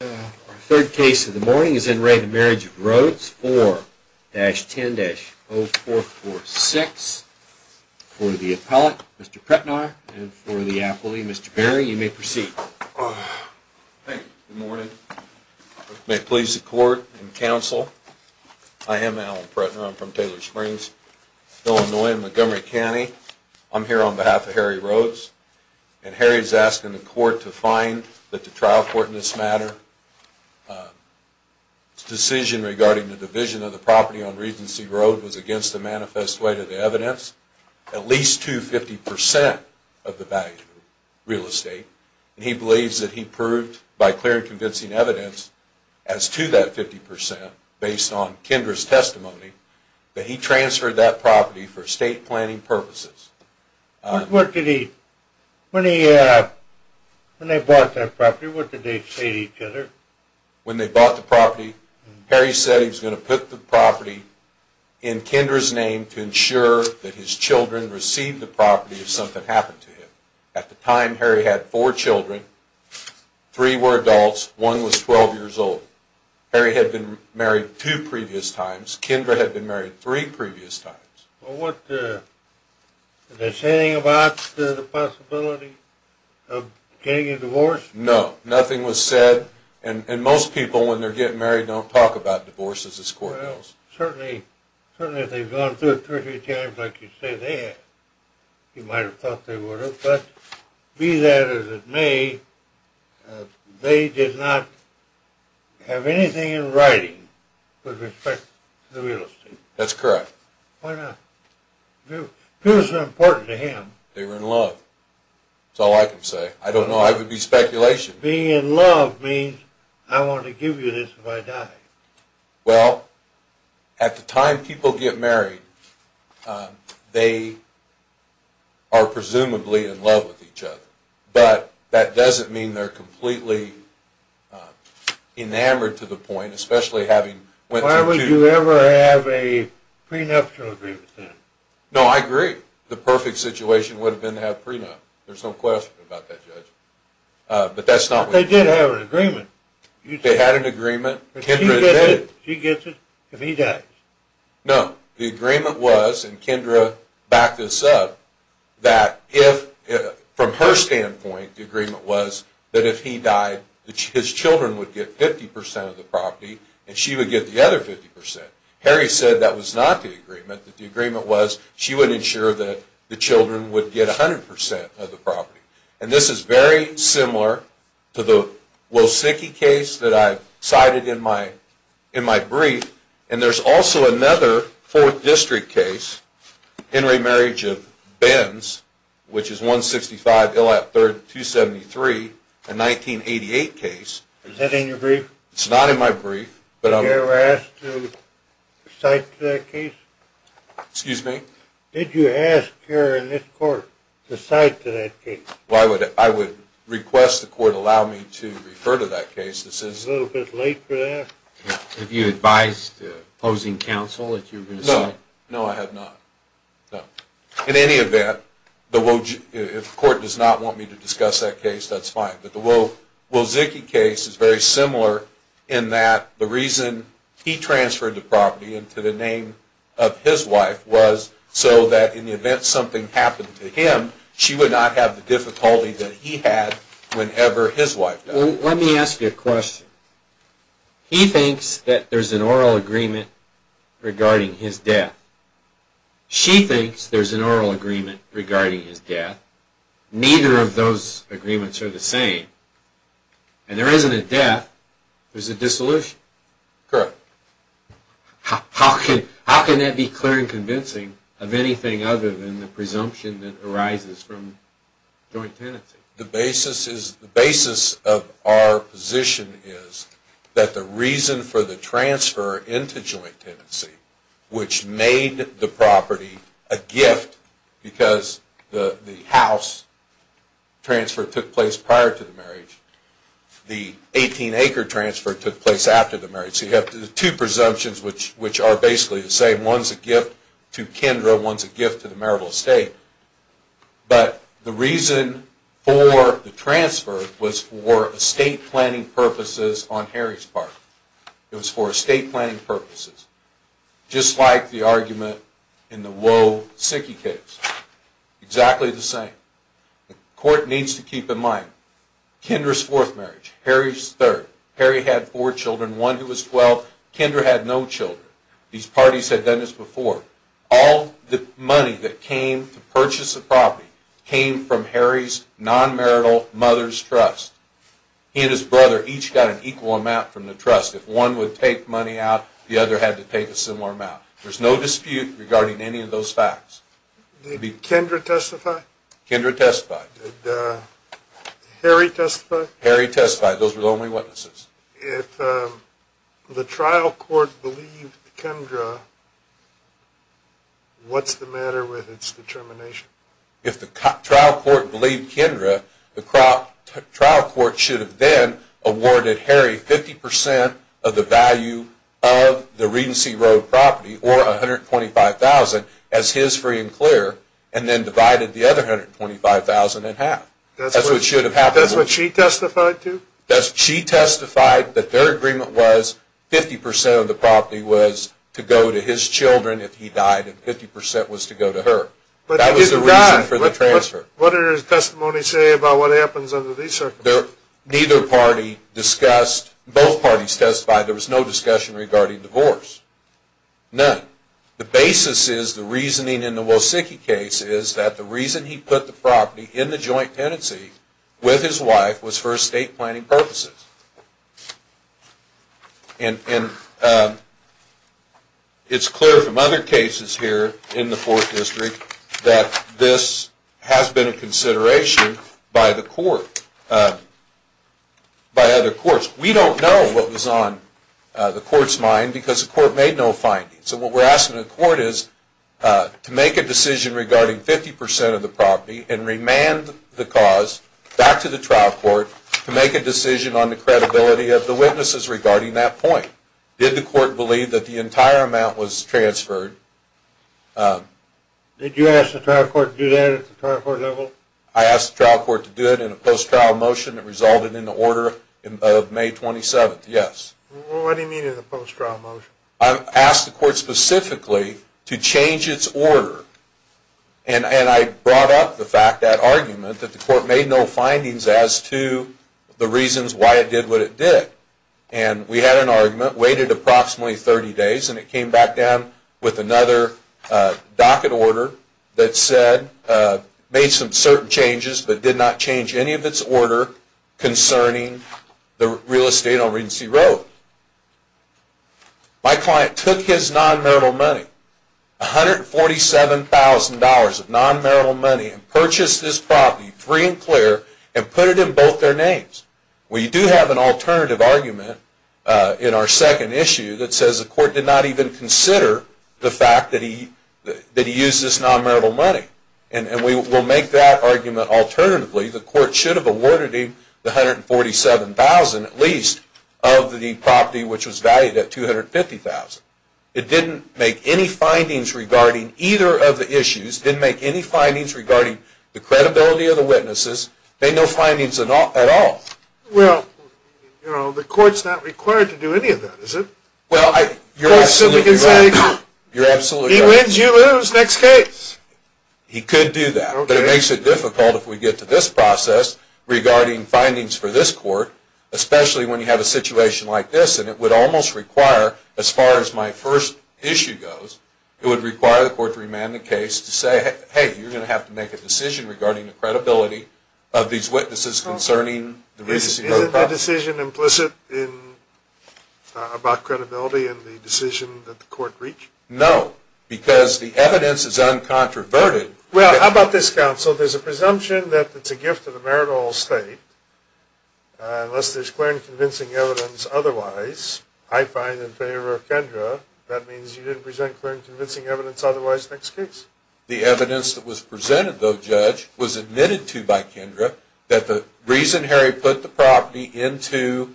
Our third case of the morning is in re Marriage of Rhodes 4-10-0446 for the appellate, Mr. Pretnar, and for the appellee, Mr. Berry. You may proceed. Thank you. Good morning. May it please the court and counsel, I am Alan Pretnar. I'm from Taylor Springs, Illinois in Montgomery County. I'm here on behalf of Harry Rhodes, and Harry is asking the court to find that the trial court in this matter's decision regarding the division of the property on Regency Road was against the manifest weight of the evidence at least to 50% of the value of real estate. He believes that he proved, by clear and convincing evidence, as to that 50% based on Kendra's testimony, that he transferred that property for estate planning purposes. When they bought that property, what did they say to each other? When they bought the property, Harry said he was going to put the property in Kendra's name to ensure that his children received the property if something happened to him. At the time, Harry had four children. Three were adults. One was 12 years old. Harry had been married two previous times. Kendra had been married three previous times. Did they say anything about the possibility of getting a divorce? No. Nothing was said, and most people when they're getting married don't talk about divorces as court does. Certainly if they've gone through it 30 times like you say they have. You might have thought they would have, but be that as it may, they did not have anything in writing with respect to the real estate. That's correct. Why not? Two is important to him. They were in love. That's all I can say. I don't know. That would be speculation. Being in love means I want to give you this if I die. Well, at the time people get married, they are presumably in love with each other. But that doesn't mean they're completely enamored to the point, especially having went through two. Did they ever have a prenuptial agreement then? No, I agree. The perfect situation would have been to have a prenup. There's no question about that, Judge. But they did have an agreement. They had an agreement. Kendra did. She gets it if he dies. No. The agreement was, and Kendra backed this up, that from her standpoint the agreement was that if he died his children would get 50% of the property and she would get the other 50%. Harry said that was not the agreement. The agreement was she would ensure that the children would get 100% of the property. And this is very similar to the Losicki case that I cited in my brief. And there's also another 4th District case, Henry Marriage of Benz, which is 165 Illap 3rd 273, a 1988 case. Is that in your brief? It's not in my brief. Did you ever ask to cite to that case? Excuse me? Did you ask here in this court to cite to that case? Well, I would request the court allow me to refer to that case. This is a little bit late for that. Have you advised opposing counsel that you were going to cite? No. No, I have not. In any event, if the court does not want me to discuss that case, that's fine. But the Wozicki case is very similar in that the reason he transferred the property into the name of his wife was so that in the event something happened to him, she would not have the difficulty that he had whenever his wife did. Let me ask you a question. He thinks that there's an oral agreement regarding his death. She thinks there's an oral agreement regarding his death. But neither of those agreements are the same. And there isn't a death, there's a dissolution. Correct. How can that be clear and convincing of anything other than the presumption that arises from joint tenancy? The basis of our position is that the reason for the transfer into joint tenancy, which made the property a gift because the house transfer took place prior to the marriage, the 18-acre transfer took place after the marriage. So you have two presumptions which are basically the same. One's a gift to Kendra, one's a gift to the marital estate. But the reason for the transfer was for estate planning purposes on Harry's part. It was for estate planning purposes. Just like the argument in the Woe, Sickie case. Exactly the same. The court needs to keep in mind, Kendra's fourth marriage, Harry's third. Harry had four children, one who was 12. Kendra had no children. These parties had done this before. All the money that came to purchase the property came from Harry's non-marital mother's trust. He and his brother each got an equal amount from the trust. If one would take money out, the other had to take a similar amount. There's no dispute regarding any of those facts. Did Kendra testify? Kendra testified. Did Harry testify? Harry testified. Those were the only witnesses. If the trial court believed Kendra, what's the matter with its determination? If the trial court believed Kendra, the trial court should have then awarded Harry 50% of the value of the Regency Road property, or $125,000, as his free and clear, and then divided the other $125,000 in half. That's what she testified to? She testified that their agreement was 50% of the property was to go to his children if he died and 50% was to go to her. That was the reason for the transfer. What did his testimony say about what happens under these circumstances? Both parties testified there was no discussion regarding divorce. None. The basis is the reasoning in the Wozicki case is that the reason he put the property in the joint tenancy with his wife was for estate planning purposes. It's clear from other cases here in the Fourth District that this has been a consideration by the court, by other courts. We don't know what was on the court's mind because the court made no findings. So what we're asking the court is to make a decision regarding 50% of the property and remand the cause back to the trial court to make a decision on the credibility of the witnesses regarding that point. Did the court believe that the entire amount was transferred? Did you ask the trial court to do that at the trial court level? I asked the trial court to do it in a post-trial motion that resulted in the order of May 27th, yes. What do you mean in a post-trial motion? I asked the court specifically to change its order. And I brought up the fact that argument that the court made no findings as to the reasons why it did what it did. And we had an argument, waited approximately 30 days, and it came back down with another docket order that said, made some certain changes but did not change any of its order concerning the real estate on Regency Road. My client took his non-marital money, $147,000 of non-marital money, and purchased this property free and clear and put it in both their names. We do have an alternative argument in our second issue that says the court did not even consider the fact that he used this non-marital money. And we will make that argument alternatively. The court should have awarded him the $147,000, at least, of the property which was valued at $250,000. It didn't make any findings regarding either of the issues, didn't make any findings regarding the credibility of the witnesses, made no findings at all. Well, you know, the court's not required to do any of that, is it? Well, you're absolutely right. He wins, you lose, next case. He could do that. But it makes it difficult if we get to this process regarding findings for this court, especially when you have a situation like this. And it would almost require, as far as my first issue goes, it would require the court to remand the case to say, hey, you're going to have to make a decision regarding the credibility of these witnesses concerning the Regency Road property. Isn't the decision implicit about credibility in the decision that the court reached? No. Because the evidence is uncontroverted. Well, how about this, counsel? There's a presumption that it's a gift of the merit of all State, unless there's clear and convincing evidence otherwise. I find in favor of Kendra. That means you didn't present clear and convincing evidence otherwise. Next case. The evidence that was presented, though, Judge, was admitted to by Kendra that the reason Harry put the property into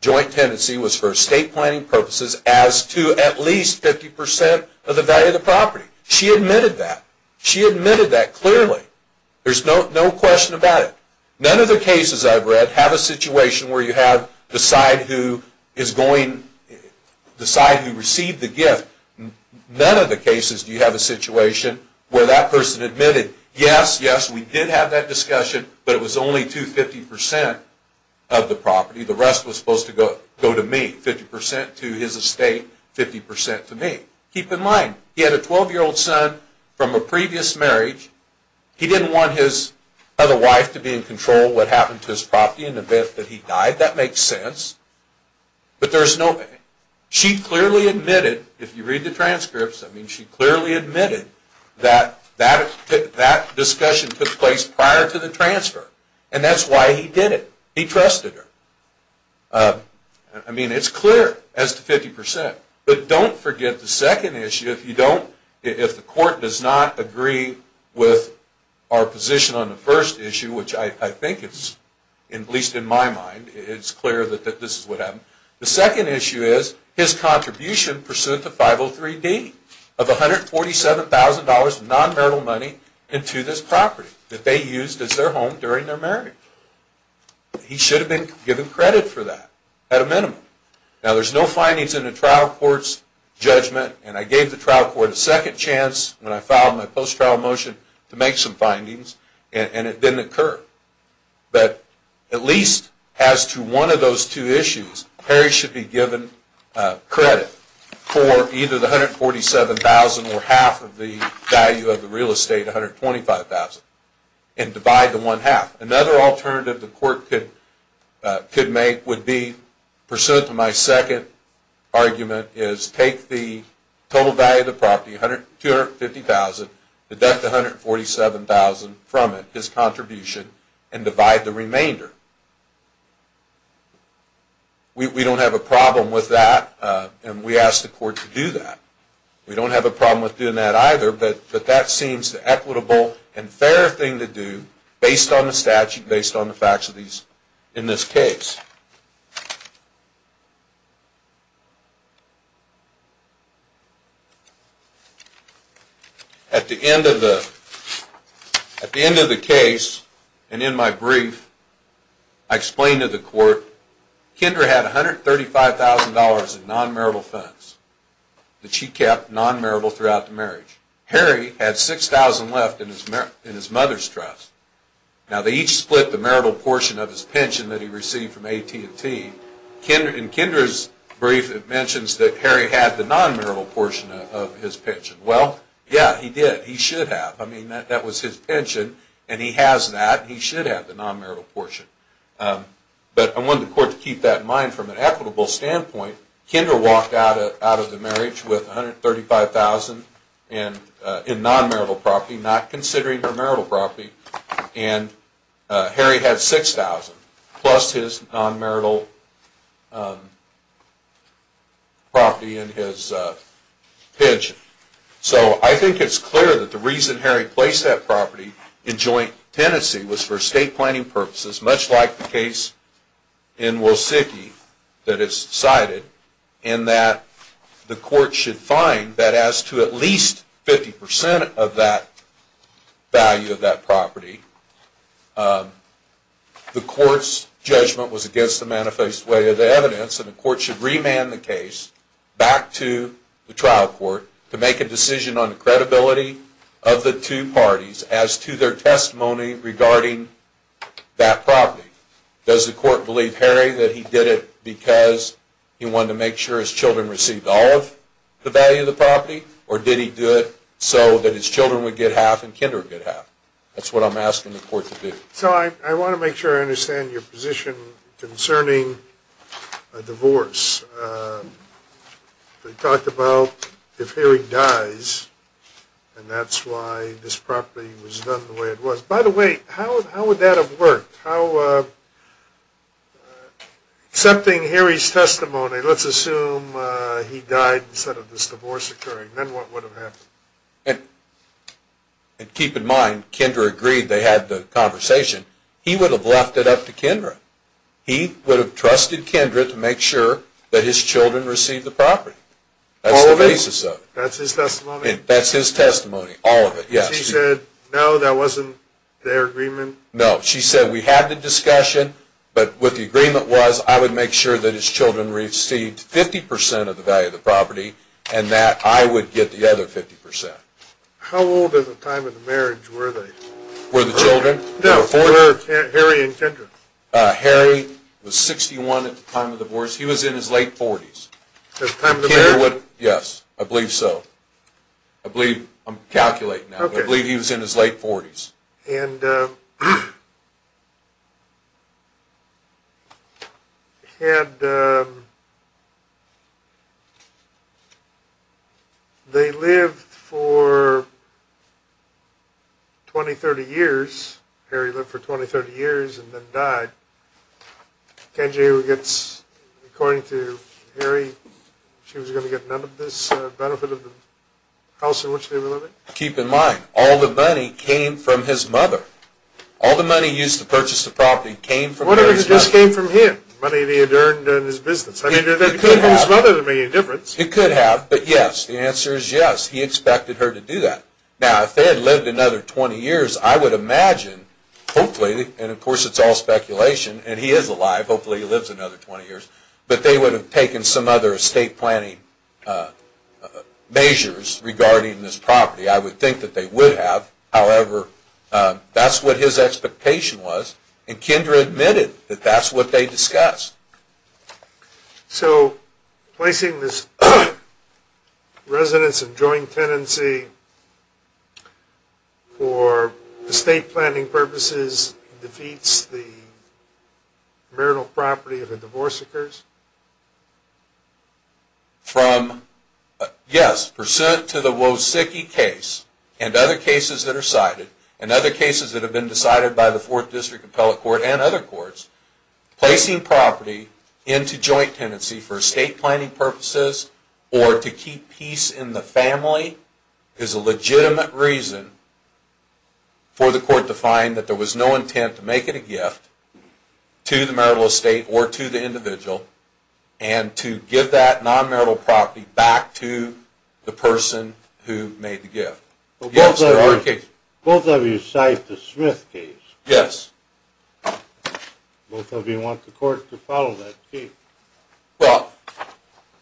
joint tenancy was for estate planning purposes as to at least 50% of the value of the property. She admitted that. She admitted that clearly. There's no question about it. None of the cases I've read have a situation where you decide who received the gift. None of the cases do you have a situation where that person admitted, yes, yes, we did have that discussion, but it was only to 50% of the property. The rest was supposed to go to me, 50% to his estate, 50% to me. Keep in mind, he had a 12-year-old son from a previous marriage. He didn't want his other wife to be in control of what happened to his property in the event that he died. That makes sense. But there's no way. She clearly admitted, if you read the transcripts, I mean, she clearly admitted that that discussion took place prior to the transfer, and that's why he did it. He trusted her. I mean, it's clear as to 50%. But don't forget the second issue, if you don't, if the court does not agree with our position on the first issue, which I think it's, at least in my mind, it's clear that this is what happened. The second issue is his contribution pursuant to 503D of $147,000 of non-marital money into this property that they used as their home during their marriage. He should have been given credit for that at a minimum. Now, there's no findings in the trial court's judgment, and I gave the trial court a second chance when I filed my post-trial motion to make some findings, and it didn't occur. But at least as to one of those two issues, Harry should be given credit for either the $147,000 or half of the value of the real estate, $125,000, and divide the one half. Another alternative the court could make would be, pursuant to my second argument, is take the total value of the property, $250,000, deduct the $147,000 from it, his contribution, and divide the remainder. We don't have a problem with that, and we ask the court to do that. We don't have a problem with doing that either, but that seems the equitable and fair thing to do based on the statute, based on the facts in this case. At the end of the case, and in my brief, I explained to the court, Kendra had $135,000 in non-marital funds that she kept non-marital throughout the marriage. Harry had $6,000 left in his mother's trust. Now, they each split the marital portion of his pension that he received from AT&T. In Kendra's brief, it mentions that Harry had the non-marital portion of his pension. Well, yeah, he did. He should have. I mean, that was his pension, and he has that. He should have the non-marital portion. But I wanted the court to keep that in mind from an equitable standpoint. Kendra walked out of the marriage with $135,000 in non-marital property, not considering her marital property, and Harry had $6,000 plus his non-marital property and his pension. So I think it's clear that the reason Harry placed that property in joint tenancy was for estate planning purposes, much like the case in Woseki that is cited, and that the court should find that as to at least 50% of that value of that property. The court's judgment was against the manifest way of the evidence, and the court should remand the case back to the trial court to make a decision on the credibility of the two parties as to their testimony regarding that property. Does the court believe Harry that he did it because he wanted to make sure his children received all of the value of the property, or did he do it so that his children would get half and Kendra would get half? That's what I'm asking the court to do. So I want to make sure I understand your position concerning a divorce. We talked about if Harry dies, and that's why this property was done the way it was. By the way, how would that have worked? Accepting Harry's testimony, let's assume he died instead of this divorce occurring, then what would have happened? And keep in mind, Kendra agreed. They had the conversation. He would have left it up to Kendra. He would have trusted Kendra to make sure that his children received the property. All of it? That's the basis of it. That's his testimony? That's his testimony, all of it, yes. She said, no, that wasn't their agreement? No, she said we had the discussion, but what the agreement was, I would make sure that his children received 50% of the value of the property and that I would get the other 50%. How old at the time of the marriage were they? Were the children? No, were Harry and Kendra. Harry was 61 at the time of the divorce. He was in his late 40s. At the time of the marriage? Yes, I believe so. I'm calculating now, but I believe he was in his late 40s. And they lived for 20, 30 years. Harry lived for 20, 30 years and then died. According to Harry, she was going to get none of this benefit of the house in which they were living? Keep in mind, all the money came from his mother. All the money used to purchase the property came from Harry's mother. What if it just came from him? The money that he had earned doing his business? I mean, if it came from his mother, that would make a difference. It could have, but yes, the answer is yes, he expected her to do that. Now, if they had lived another 20 years, I would imagine, hopefully, and of course it's all speculation, and he is alive, hopefully he lives another 20 years, but they would have taken some other estate planning measures regarding this property. I would think that they would have. However, that's what his expectation was, and Kendra admitted that that's what they discussed. So placing this residence of joint tenancy for estate planning purposes defeats the marital property of the divorce occurs? From, yes, pursuant to the Wosicki case, and other cases that are cited, and other cases that have been decided by the Fourth District Appellate Court and other courts, placing property into joint tenancy for estate planning purposes or to keep peace in the family is a legitimate reason for the court to find that there was no intent to make it a gift to the marital estate or to the individual, and to give that non-marital property back to the person who made the gift. Both of you cite the Smith case. Yes. Both of you want the court to follow that case. Well,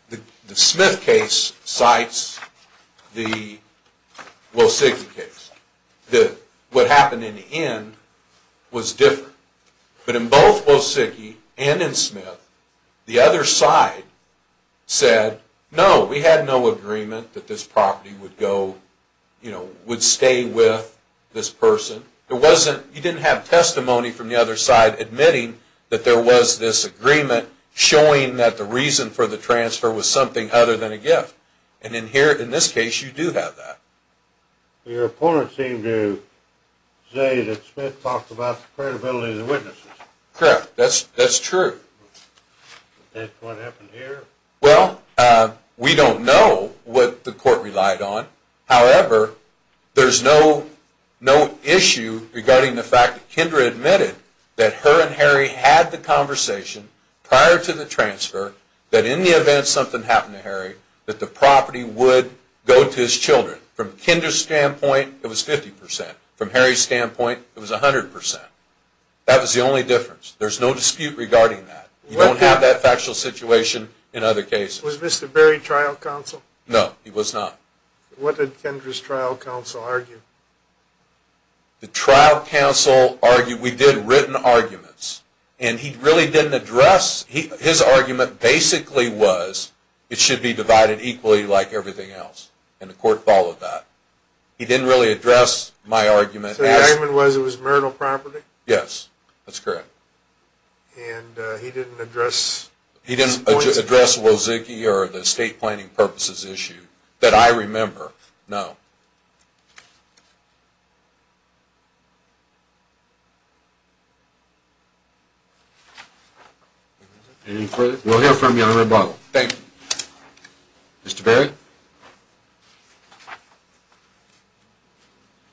the Smith case cites the Wosicki case. What happened in the end was different. But in both Wosicki and in Smith, the other side said, no, we had no agreement that this property would stay with this person. You didn't have testimony from the other side admitting that there was this agreement showing that the reason for the transfer was something other than a gift. And in this case, you do have that. Your opponent seemed to say that Smith talked about the credibility of the witnesses. Correct. That's true. That's what happened here. Well, we don't know what the court relied on. However, there's no issue regarding the fact that Kendra admitted that her and Harry had the conversation prior to the transfer that in the event something happened to Harry that the property would go to his children. From Kendra's standpoint, it was 50%. From Harry's standpoint, it was 100%. That was the only difference. There's no dispute regarding that. You don't have that factual situation in other cases. Was Mr. Berry trial counsel? No, he was not. What did Kendra's trial counsel argue? The trial counsel argued we did written arguments, and he really didn't address. His argument basically was it should be divided equally like everything else, and the court followed that. He didn't really address my argument. So the argument was it was marital property? Yes, that's correct. And he didn't address? He didn't address the state planning purposes issue that I remember. No. Anything further? We'll hear from you on the rebuttal. Thank you. Mr. Berry?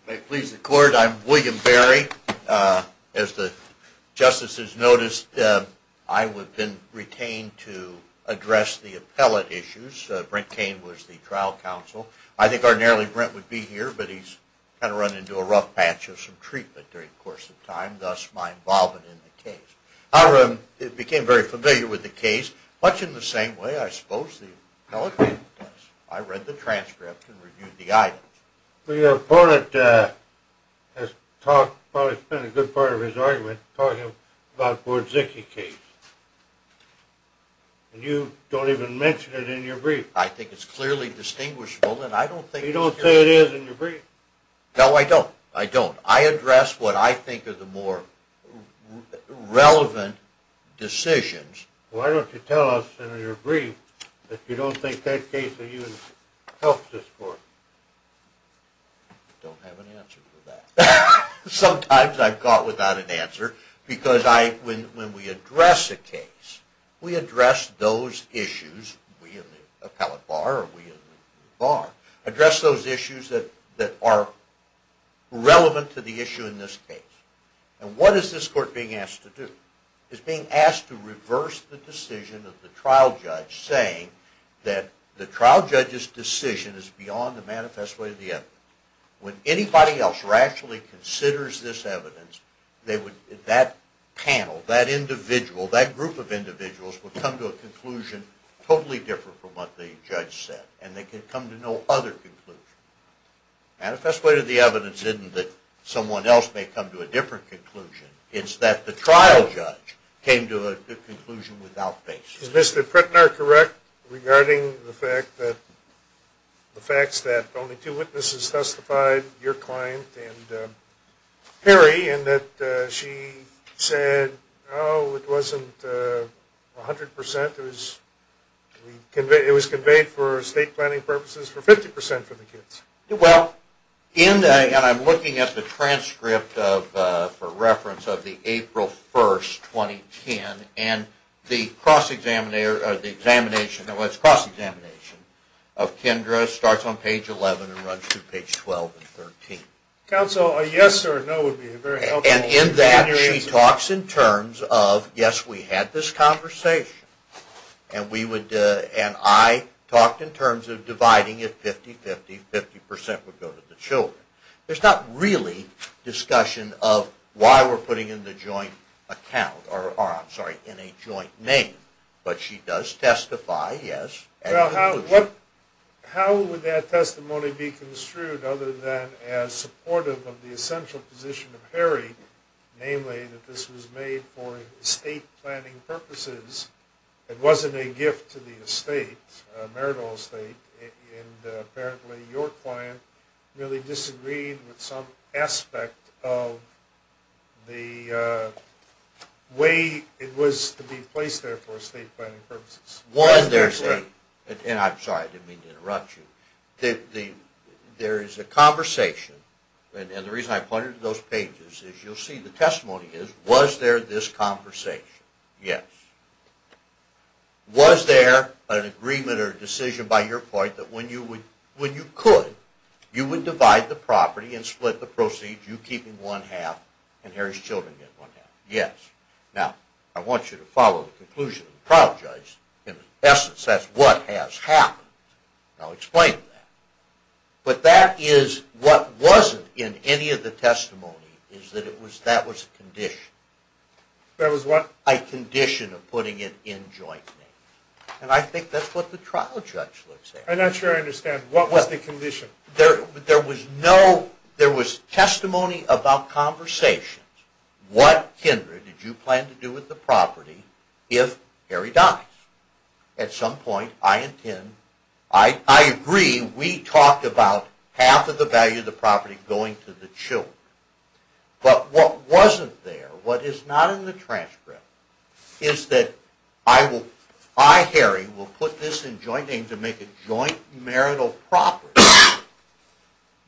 If it pleases the court, I'm William Berry. As the justices noticed, I have been retained to address the appellate issues. I think ordinarily Brent would be the trial counsel. But he's kind of run into a rough patch of some treatment during the course of time, thus my involvement in the case. I became very familiar with the case, much in the same way I suppose the appellate did. I read the transcript and reviewed the items. Your opponent has probably spent a good part of his argument talking about the Bordzicki case. And you don't even mention it in your brief. I think it's clearly distinguishable. You don't say it is in your brief? No, I don't. I address what I think are the more relevant decisions. Why don't you tell us in your brief that you don't think that case helps the court? I don't have an answer for that. Sometimes I'm caught without an answer. When we address a case, we address those issues that are relevant to the issue in this case. What is this court being asked to do? It's being asked to reverse the decision of the trial judge, saying that the trial judge's decision is beyond the manifest way of the evidence. When anybody else rationally considers this evidence, that panel, that individual, that group of individuals, will come to a conclusion totally different from what the judge said. And they can come to no other conclusion. Manifest way of the evidence isn't that someone else may come to a different conclusion. It's that the trial judge came to a conclusion without basis. Is Mr. Pritner correct regarding the facts that only two witnesses testified, your client and Perry, in that she said, oh, it wasn't 100%, it was conveyed for state planning purposes for 50% for the kids? Well, and I'm looking at the transcript for reference of the April 1st, 2010, and the cross-examination of Kendra starts on page 11 and runs through page 12 and 13. Counsel, a yes or a no would be very helpful. And in that she talks in terms of, yes, we had this conversation, and I talked in terms of dividing it 50-50, 50% would go to the children. There's not really discussion of why we're putting in the joint account, or, I'm sorry, in a joint name. But she does testify, yes, at the conclusion. Well, how would that testimony be construed other than as supportive of the essential position of Perry, namely that this was made for estate planning purposes, it wasn't a gift to the estate, a marital estate, and apparently your client really disagreed with some aspect of the way it was to be placed there for estate planning purposes? One, there's a, and I'm sorry, I didn't mean to interrupt you. There is a conversation, and the reason I pointed to those pages is you'll see the testimony is, was there this conversation? Yes. Was there an agreement or decision by your point that when you could, you would divide the property and split the proceeds, you keeping one half and Harry's children get one half? Yes. Now, I want you to follow the conclusion of the trial judge. In essence, that's what has happened. I'll explain that. But that is, what wasn't in any of the testimony is that it was, that was a condition. That was what? A condition of putting it in joint name. And I think that's what the trial judge looks at. I'm not sure I understand. What was the condition? There was no, there was testimony about conversations. What, Kendra, did you plan to do with the property if Harry dies? At some point, I intend, I agree, we talked about half of the value of the property going to the children. But what wasn't there, what is not in the transcript, is that I will, I, Harry, will put this in joint name to make a joint marital property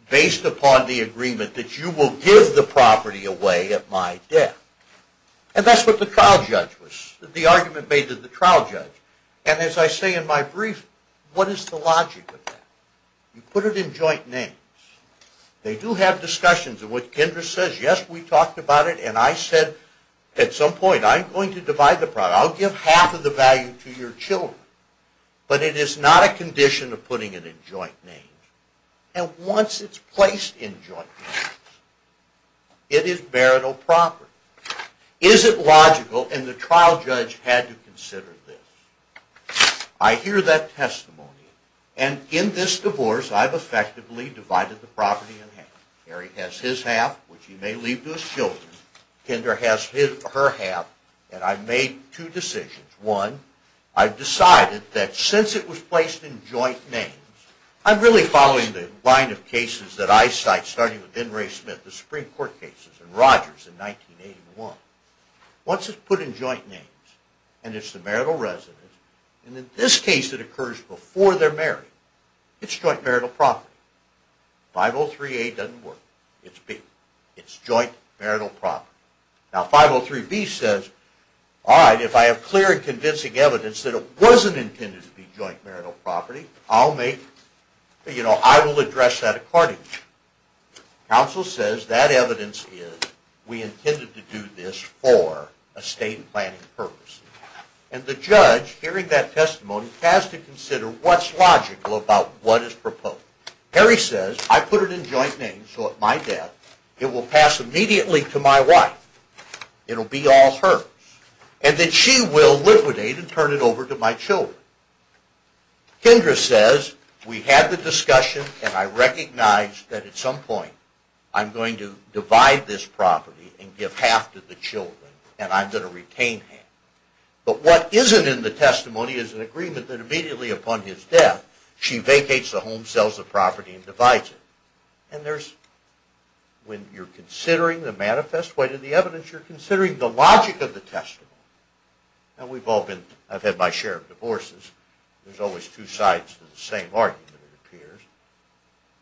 based upon the agreement that you will give the property away at my death. And that's what the trial judge was, the argument made to the trial judge. And as I say in my brief, what is the logic of that? You put it in joint names. They do have discussions. And what Kendra says, yes, we talked about it, and I said at some point, I'm going to divide the property. I'll give half of the value to your children. But it is not a condition of putting it in joint names. And once it's placed in joint names, it is marital property. Is it logical? And the trial judge had to consider this. I hear that testimony. And in this divorce, I've effectively divided the property in half. Harry has his half, which he may leave to his children. Kendra has her half. And I've made two decisions. One, I've decided that since it was placed in joint names, I'm really following the line of cases that I cite, starting with Denray Smith, the Supreme Court cases, and Rogers in 1981. Once it's put in joint names, and it's the marital residence, And in this case, it occurs before they're married. It's joint marital property. 503A doesn't work. It's B. It's joint marital property. Now, 503B says, all right, if I have clear and convincing evidence that it wasn't intended to be joint marital property, I'll make, you know, I will address that accordingly. Counsel says that evidence is, we intended to do this for estate and planning purposes. And the judge, hearing that testimony, has to consider what's logical about what is proposed. Harry says, I put it in joint names so at my death, it will pass immediately to my wife. It'll be all hers. And that she will liquidate and turn it over to my children. Kendra says, we had the discussion, and I recognize that at some point, I'm going to divide this property and give half to the children. And I'm going to retain half. But what isn't in the testimony is an agreement that immediately upon his death, she vacates the home, sells the property and divides it. And there's, when you're considering the manifest way to the evidence, you're considering the logic of the testimony. And we've all been, I've had my share of divorces. There's always two sides to the same argument, it appears.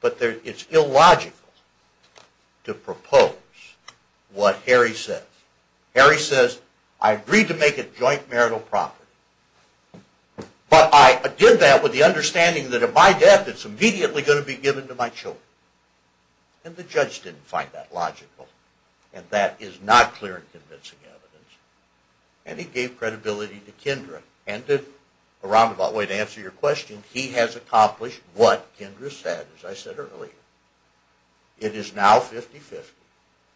But it's illogical to propose what Harry says. Harry says, I agreed to make it joint marital property. But I did that with the understanding that at my death, it's immediately going to be given to my children. And the judge didn't find that logical. And that is not clear and convincing evidence. And he gave credibility to Kendra. And to, a roundabout way to answer your question, he has accomplished what Kendra said, as I said earlier. It is now 50-50.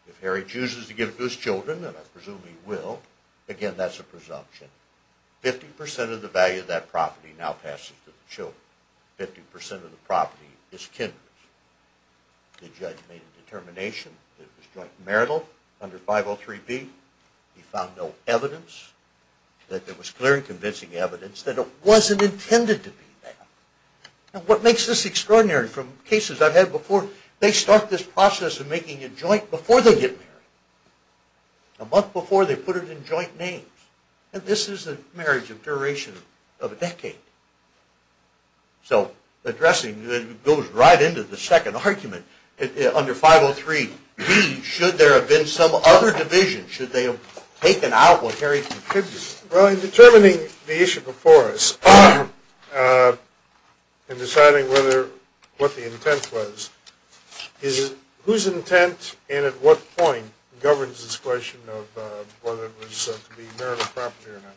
If Harry chooses to give it to his children, and I presume he will, again, that's a presumption. 50% of the value of that property now passes to the children. 50% of the property is Kendra's. The judge made a determination that it was joint marital under 503B. He found no evidence that there was clear and convincing evidence that it wasn't intended to be that. And what makes this extraordinary, from cases I've had before, they start this process of making it joint before they get married. A month before, they put it in joint names. And this is a marriage of duration of a decade. So addressing goes right into the second argument. Under 503B, should there have been some other division? Should they have taken out what Harry contributed? Well, in determining the issue before us, in deciding what the intent was, whose intent and at what point governs this question of whether it was to be marital property or not?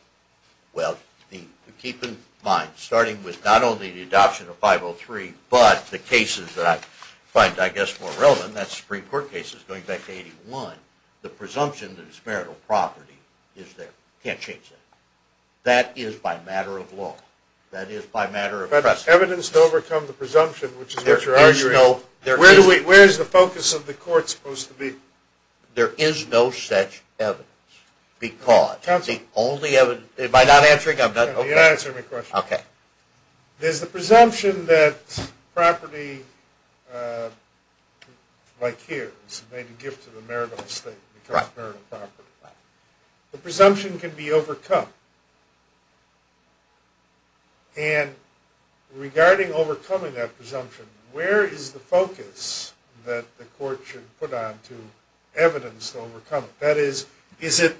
Well, keep in mind, starting with not only the adoption of 503, but the cases that I find, I guess, more relevant, that's Supreme Court cases going back to 81, the presumption that it's marital property is there. Can't change that. That is by matter of law. That is by matter of precedent. But evidence to overcome the presumption, which is what you're arguing. There is no... Where is the focus of the court supposed to be? There is no such evidence. Because the only evidence... Am I not answering? You're answering my question. Okay. There's the presumption that property, like here, is made a gift to the marital estate and becomes marital property. The presumption can be overcome. And regarding overcoming that presumption, where is the focus that the court should put on to evidence to overcome it? That is, is it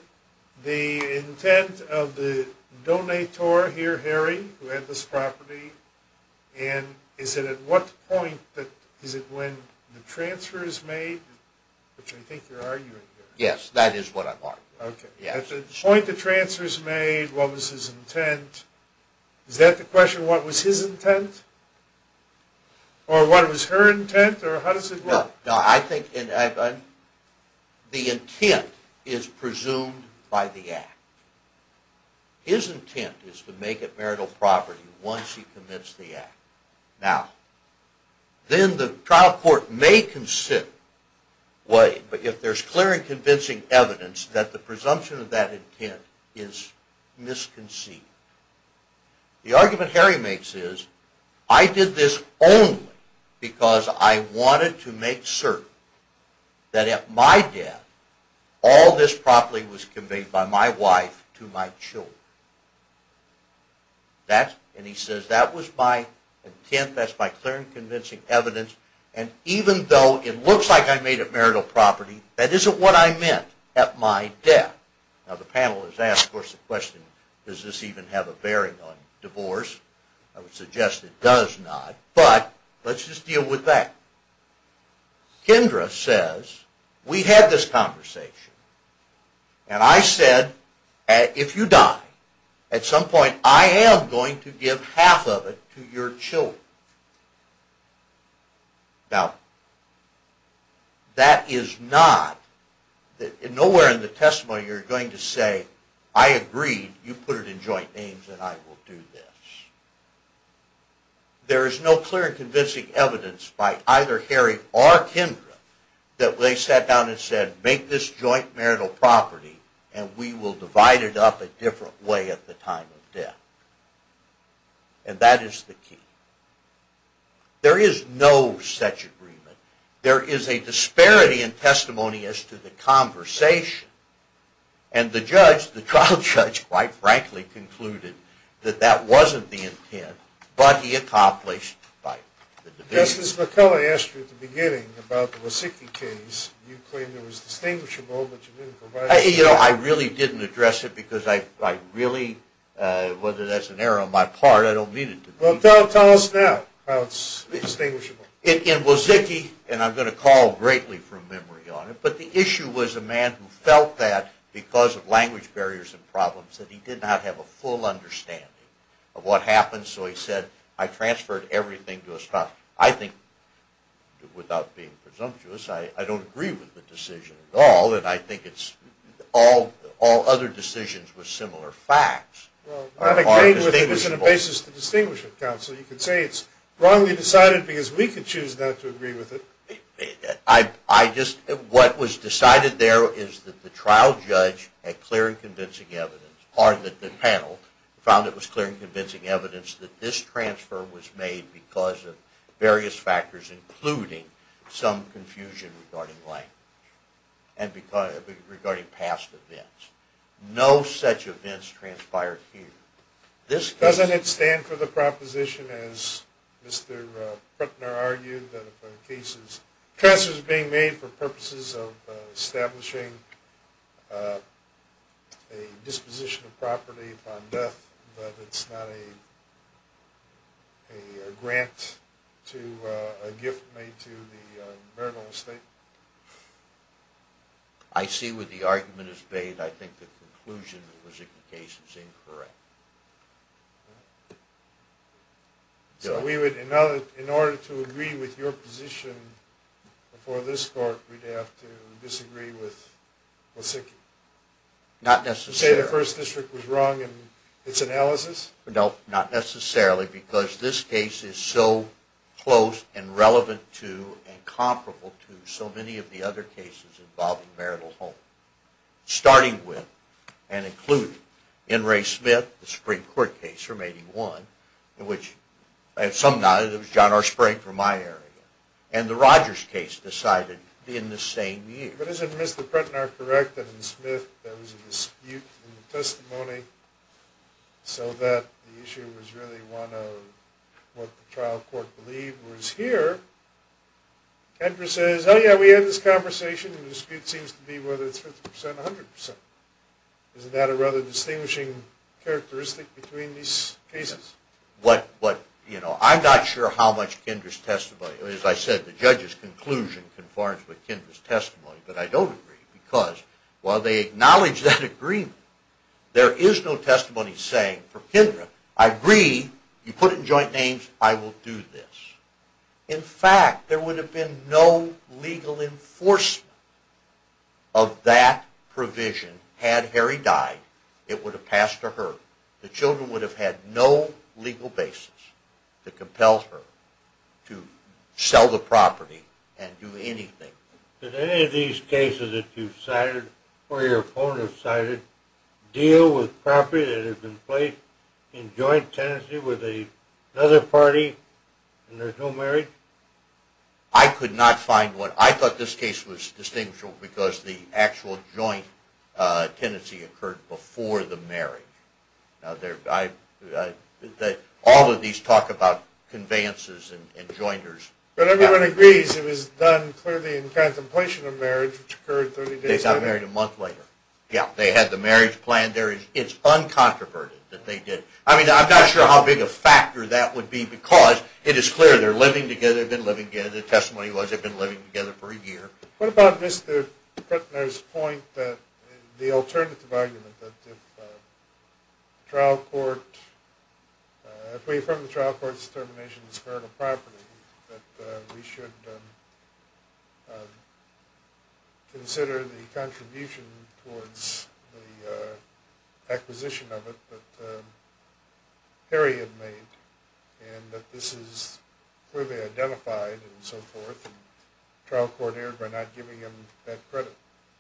the intent of the donator here, Harry, who had this property? And is it at what point, is it when the transfer is made? Which I think you're arguing here. Yes, that is what I'm arguing. Okay. At the point the transfer is made, what was his intent? Is that the question, what was his intent? Or what was her intent, or how does it work? No, I think the intent is presumed by the act. His intent is to make it marital property once he commits the act. Now, then the trial court may consider, if there's clear and convincing evidence, that the presumption of that intent is misconceived. The argument Harry makes is, I did this only because I wanted to make certain that at my death, all this property was conveyed by my wife to my children. And he says, that was my intent, that's my clear and convincing evidence, and even though it looks like I made it marital property, that isn't what I meant at my death. Now, the panel has asked, of course, the question, does this even have a bearing on divorce? I would suggest it does not, but let's just deal with that. Kendra says, we had this conversation, and I said, if you die, at some point I am going to give half of it to your children. Now, that is not, nowhere in the testimony are you going to say, I agreed, you put it in joint names, and I will do this. There is no clear and convincing evidence by either Harry or Kendra, that they sat down and said, make this joint marital property, and we will divide it up a different way at the time of death. And that is the key. There is no such agreement. There is a disparity in testimony as to the conversation. And the judge, the trial judge, quite frankly, concluded that that wasn't the intent, but he accomplished by the debate. Justice McCullough asked you at the beginning about the Wasecki case, you claimed it was distinguishable, but you didn't provide... You know, I really didn't address it, because I really, whether that's an error on my part, I don't mean it to be. Well, tell us now how it's distinguishable. In Wasecki, and I'm going to call greatly from memory on it, but the issue was a man who felt that, because of language barriers and problems, that he did not have a full understanding of what happened, so he said, I transferred everything to a spouse. I think, without being presumptuous, I don't agree with the decision at all, and I think all other decisions were similar facts. Well, I don't agree with it as a basis to distinguish it, counsel. You could say it's wrongly decided because we could choose not to agree with it. I just, what was decided there is that the trial judge had clear and convincing evidence. Part of the panel found it was clear and convincing evidence that this transfer was made because of various factors, including some confusion regarding language. And regarding past events. No such events transpired here. Doesn't it stand for the proposition, as Mr. Putner argued, that if a transfer is being made for purposes of establishing a disposition of property upon death, that it's not a grant to, a gift made to the marital estate? I see where the argument is made. I think the conclusion of the signification is incorrect. So we would, in order to agree with your position before this court, we'd have to disagree with Wasicki? Not necessarily. Would you say the First District was wrong in its analysis? No, not necessarily, because this case is so close and relevant to and comparable to so many of the other cases involving marital home. Starting with, and including, N. Ray Smith, the Supreme Court case from 81, which at some note it was John R. Spring from my area, and the Rogers case decided in the same year. But isn't Mr. Putner correct that in Smith there was a dispute in the testimony so that the issue was really one of what the trial court believed was here? Kendra says, oh yeah, we had this conversation, and the dispute seems to be whether it's 50% or 100%. Isn't that a rather distinguishing characteristic between these cases? I'm not sure how much Kendra's testimony, as I said, the judge's conclusion conforms with Kendra's testimony, but I don't agree because while they acknowledge that agreement, there is no testimony saying for Kendra, I agree, you put it in joint names, I will do this. In fact, there would have been no legal enforcement of that provision had Harry died. It would have passed to her. The children would have had no legal basis to compel her to sell the property and do anything. Did any of these cases that you've cited or your opponent has cited deal with property that has been placed in joint tenancy with another party and there's no marriage? I could not find one. I thought this case was distinguishable because the actual joint tenancy occurred before the marriage. All of these talk about conveyances and jointers. But everyone agrees it was done clearly in contemplation of marriage, which occurred 30 days later. They got married a month later. Yeah, they had the marriage plan. It's uncontroverted that they did. I mean, I'm not sure how big a factor that would be because it is clear they're living together, they've been living together. The testimony was they've been living together for a year. What about Mr. Kuttner's point that the alternative argument that if the trial court, if we affirm the trial court's determination that it's heritable property, that we should consider the contribution towards the acquisition of it that Harry had made and that this is clearly identified and so forth and the trial court erred by not giving him that credit?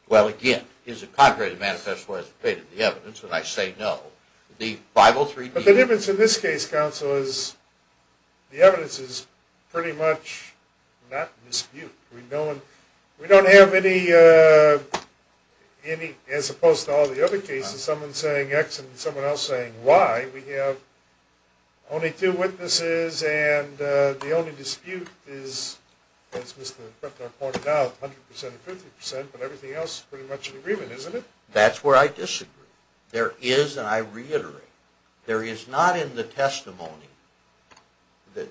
Well, again, his contrary manifesto has evaded the evidence, and I say no. But the difference in this case, counsel, is the evidence is pretty much not in dispute. We don't have any, as opposed to all the other cases, someone saying X and someone else saying Y. We have only two witnesses and the only dispute is, as Mr. Kuttner pointed out, 100% and 50%, but everything else is pretty much in agreement, isn't it? That's where I disagree. There is, and I reiterate, there is not in the testimony,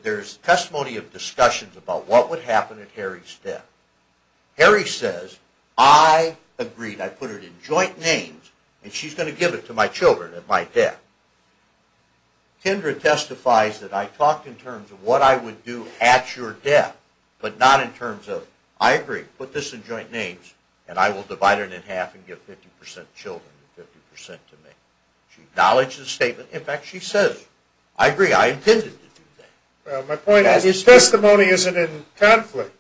there's testimony of discussions about what would happen at Harry's death. Harry says, I agreed, I put it in joint names, and she's going to give it to my children at my death. Kendra testifies that I talked in terms of what I would do at your death, but not in terms of, I agree, put this in joint names, and I will divide it in half and give 50% children and 50% to me. She acknowledged the statement. In fact, she says, I agree, I intended to do that. Well, my point is testimony isn't in conflict.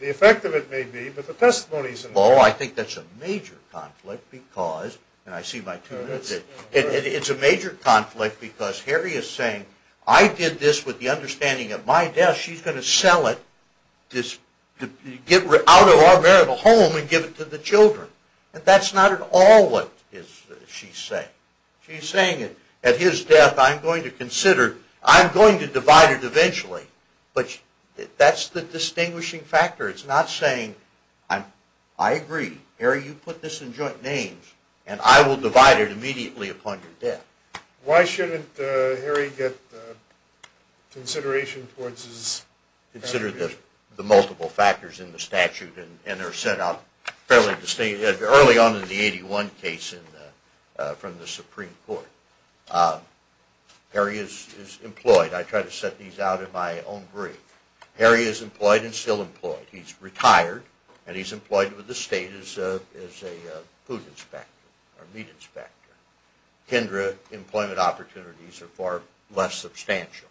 The effect of it may be, but the testimony isn't. Well, I think that's a major conflict because, and I see my two witnesses, it's a major conflict because Harry is saying, I did this with the understanding at my death, she's going to sell it, get out of our marital home and give it to the children. That's not at all what she's saying. She's saying, at his death, I'm going to consider, I'm going to divide it eventually, but that's the distinguishing factor. It's not saying, I agree, Harry, you put this in joint names, and I will divide it immediately upon your death. Why shouldn't Harry get consideration towards this? Consider the multiple factors in the statute, and they're set out fairly distinctly. Early on in the 81 case from the Supreme Court, Harry is employed. I try to set these out in my own brief. Harry is employed and still employed. He's retired, and he's employed with the state as a food inspector, or meat inspector. Kindred employment opportunities are far less substantial.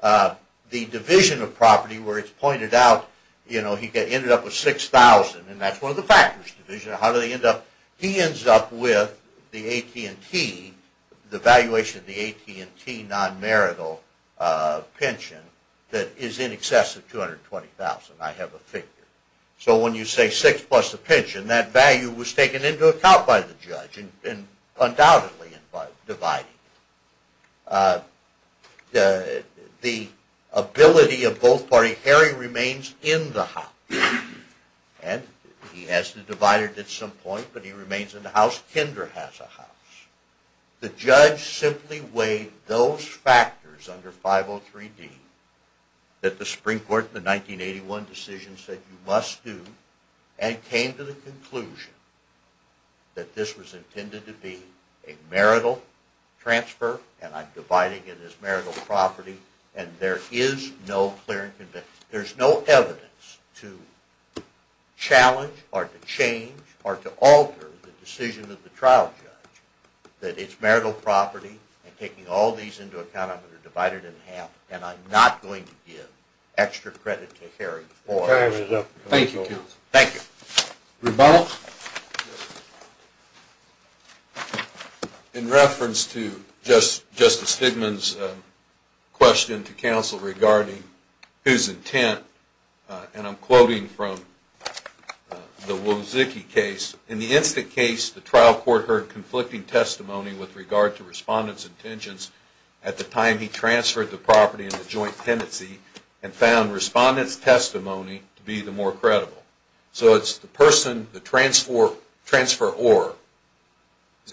The division of property where it's pointed out, you know, he ended up with $6,000, and that's one of the factors, division. How did he end up? He ends up with the AT&T, the valuation of the AT&T non-marital pension that is in excess of $220,000. I have a figure. So when you say 6 plus the pension, that value was taken into account by the judge, and undoubtedly divided. The ability of both parties, Harry remains in the house, and he has to divide it at some point, but he remains in the house. Kindred has a house. The judge simply weighed those factors under 503D that the Supreme Court in the 1981 decision said you must do, and came to the conclusion that this was intended to be a marital transfer, and I'm dividing it as marital property, and there is no clear and convincing. There's no evidence to challenge or to change or to alter the decision of the trial judge that it's marital property, and taking all these into account, I'm going to divide it in half, and I'm not going to give extra credit to Harry for it. Thank you, counsel. Thank you. Rebuttal? In reference to Justice Stigman's question to counsel regarding whose intent, and I'm quoting from the Wozzecki case, in the instant case, the trial court heard conflicting testimony with regard to respondent's intentions at the time he transferred the property into joint tenancy, and found respondent's testimony to be the more credible. So it's the person, the transferor's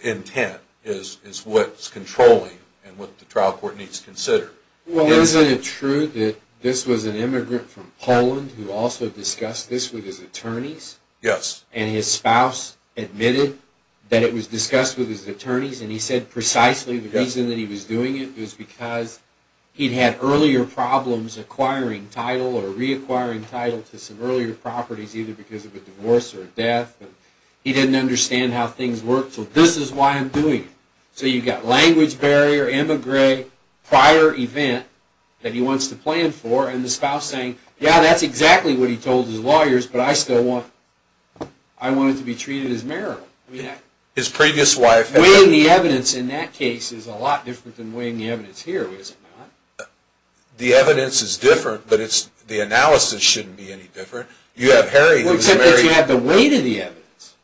intent is what's controlling and what the trial court needs to consider. Well, isn't it true that this was an immigrant from Poland who also discussed this with his attorneys? Yes. And his spouse admitted that it was discussed with his attorneys, and he said precisely the reason that he was doing it was because he'd had earlier problems acquiring title or reacquiring title to some earlier properties, either because of a divorce or a death. He didn't understand how things worked, so this is why I'm doing it. So you've got language barrier, immigrant, prior event that he wants to plan for, and the spouse saying, yeah, that's exactly what he told his lawyers, but I still want it to be treated as marital. His previous wife... Weighing the evidence in that case is a lot different than weighing the evidence here, is it not? The evidence is different, but the analysis shouldn't be any different. You have Harry... Well, except that you have the weight of the evidence.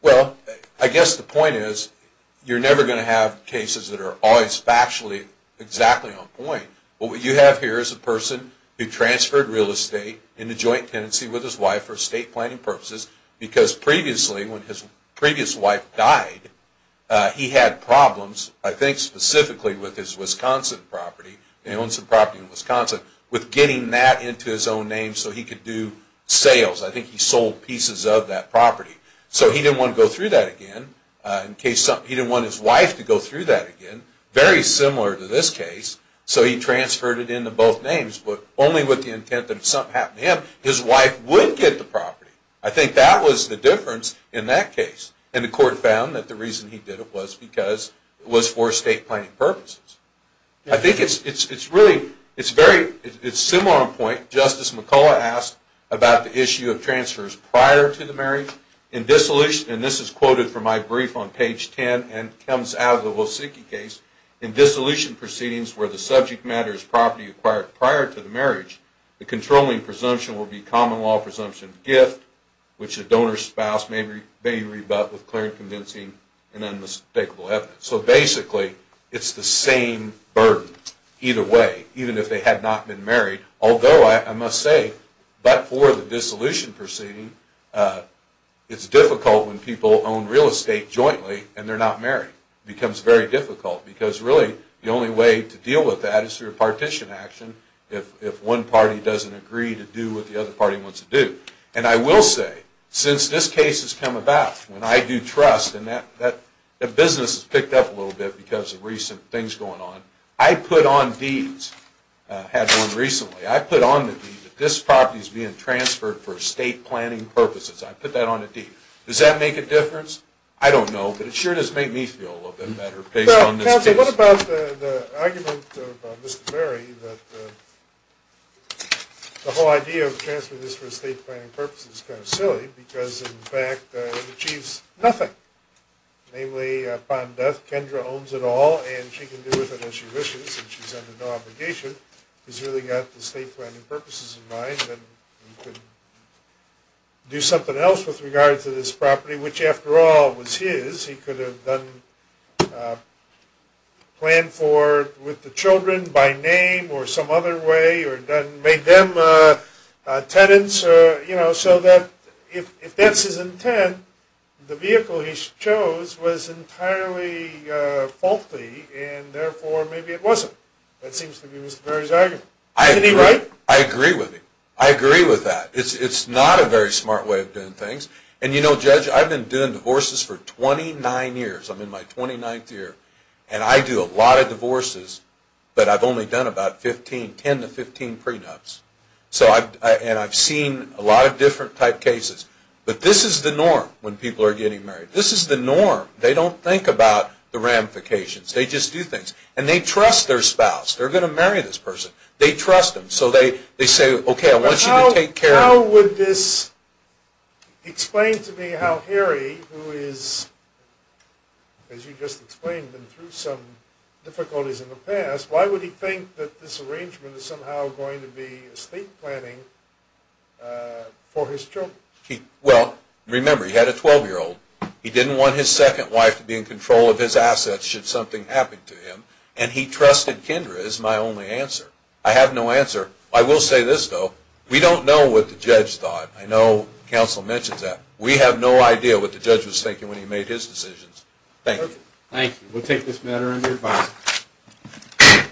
Well, I guess the point is, you're never going to have cases that are always factually exactly on point. What you have here is a person who transferred real estate in a joint tenancy with his wife for estate planning purposes because previously, when his previous wife died, he had problems, I think specifically with his Wisconsin property. He owns a property in Wisconsin. With getting that into his own name so he could do sales, I think he sold pieces of that property. So he didn't want to go through that again. He didn't want his wife to go through that again. Very similar to this case, so he transferred it into both names, but only with the intent that if something happened to him, his wife would get the property. I think that was the difference in that case. And the court found that the reason he did it was because it was for estate planning purposes. I think it's really... It's similar on point. Justice McCullough asked about the issue of transfers prior to the marriage. In dissolution, and this is quoted from my brief on page 10 and comes out of the Wolsinki case, in dissolution proceedings where the subject matter is property acquired prior to the marriage, the controlling presumption will be common law presumption of gift, which the donor's spouse may rebut with clear and convincing and unmistakable evidence. So basically, it's the same burden either way, even if they had not been married. Although, I must say, but for the dissolution proceeding, it's difficult when people own real estate jointly and they're not married. It becomes very difficult because really, the only way to deal with that is through a partition action if one party doesn't agree to do what the other party wants to do. And I will say, since this case has come about, when I do trust, and that business has picked up a little bit because of recent things going on, I put on deeds. I had one recently. I put on the deed that this property is being transferred for estate planning purposes. I put that on a deed. Does that make a difference? I don't know, but it sure does make me feel a little bit better based on this case. Well, Patrick, what about the argument of Mr. Berry that the whole idea of transferring this for estate planning purposes is kind of silly because, in fact, it achieves nothing. Namely, upon death, Kendra owns it all, and she can do with it as she wishes, and she's under no obligation. She's really got the estate planning purposes in mind and can do something else with regard to this property, which, after all, was his. He could have planned for it with the children by name or some other way or made them tenants so that, if that's his intent, the vehicle he chose was entirely faulty, and therefore maybe it wasn't. That seems to be Mr. Berry's argument. Isn't he right? I agree with him. I agree with that. It's not a very smart way of doing things. And, you know, Judge, I've been doing divorces for 29 years. I'm in my 29th year, and I do a lot of divorces, but I've only done about 10 to 15 prenups, and I've seen a lot of different type cases. But this is the norm when people are getting married. This is the norm. They don't think about the ramifications. They just do things, and they trust their spouse. They're going to marry this person. They trust them, so they say, How would this explain to me how Harry, who is, as you just explained, been through some difficulties in the past, why would he think that this arrangement is somehow going to be estate planning for his children? Well, remember, he had a 12-year-old. He didn't want his second wife to be in control of his assets should something happen to him, and he trusted Kendra is my only answer. I have no answer. I will say this, though. We don't know what the judge thought. I know counsel mentions that. We have no idea what the judge was thinking when he made his decisions. Thank you. Thank you. We'll take this matter under review. Bye.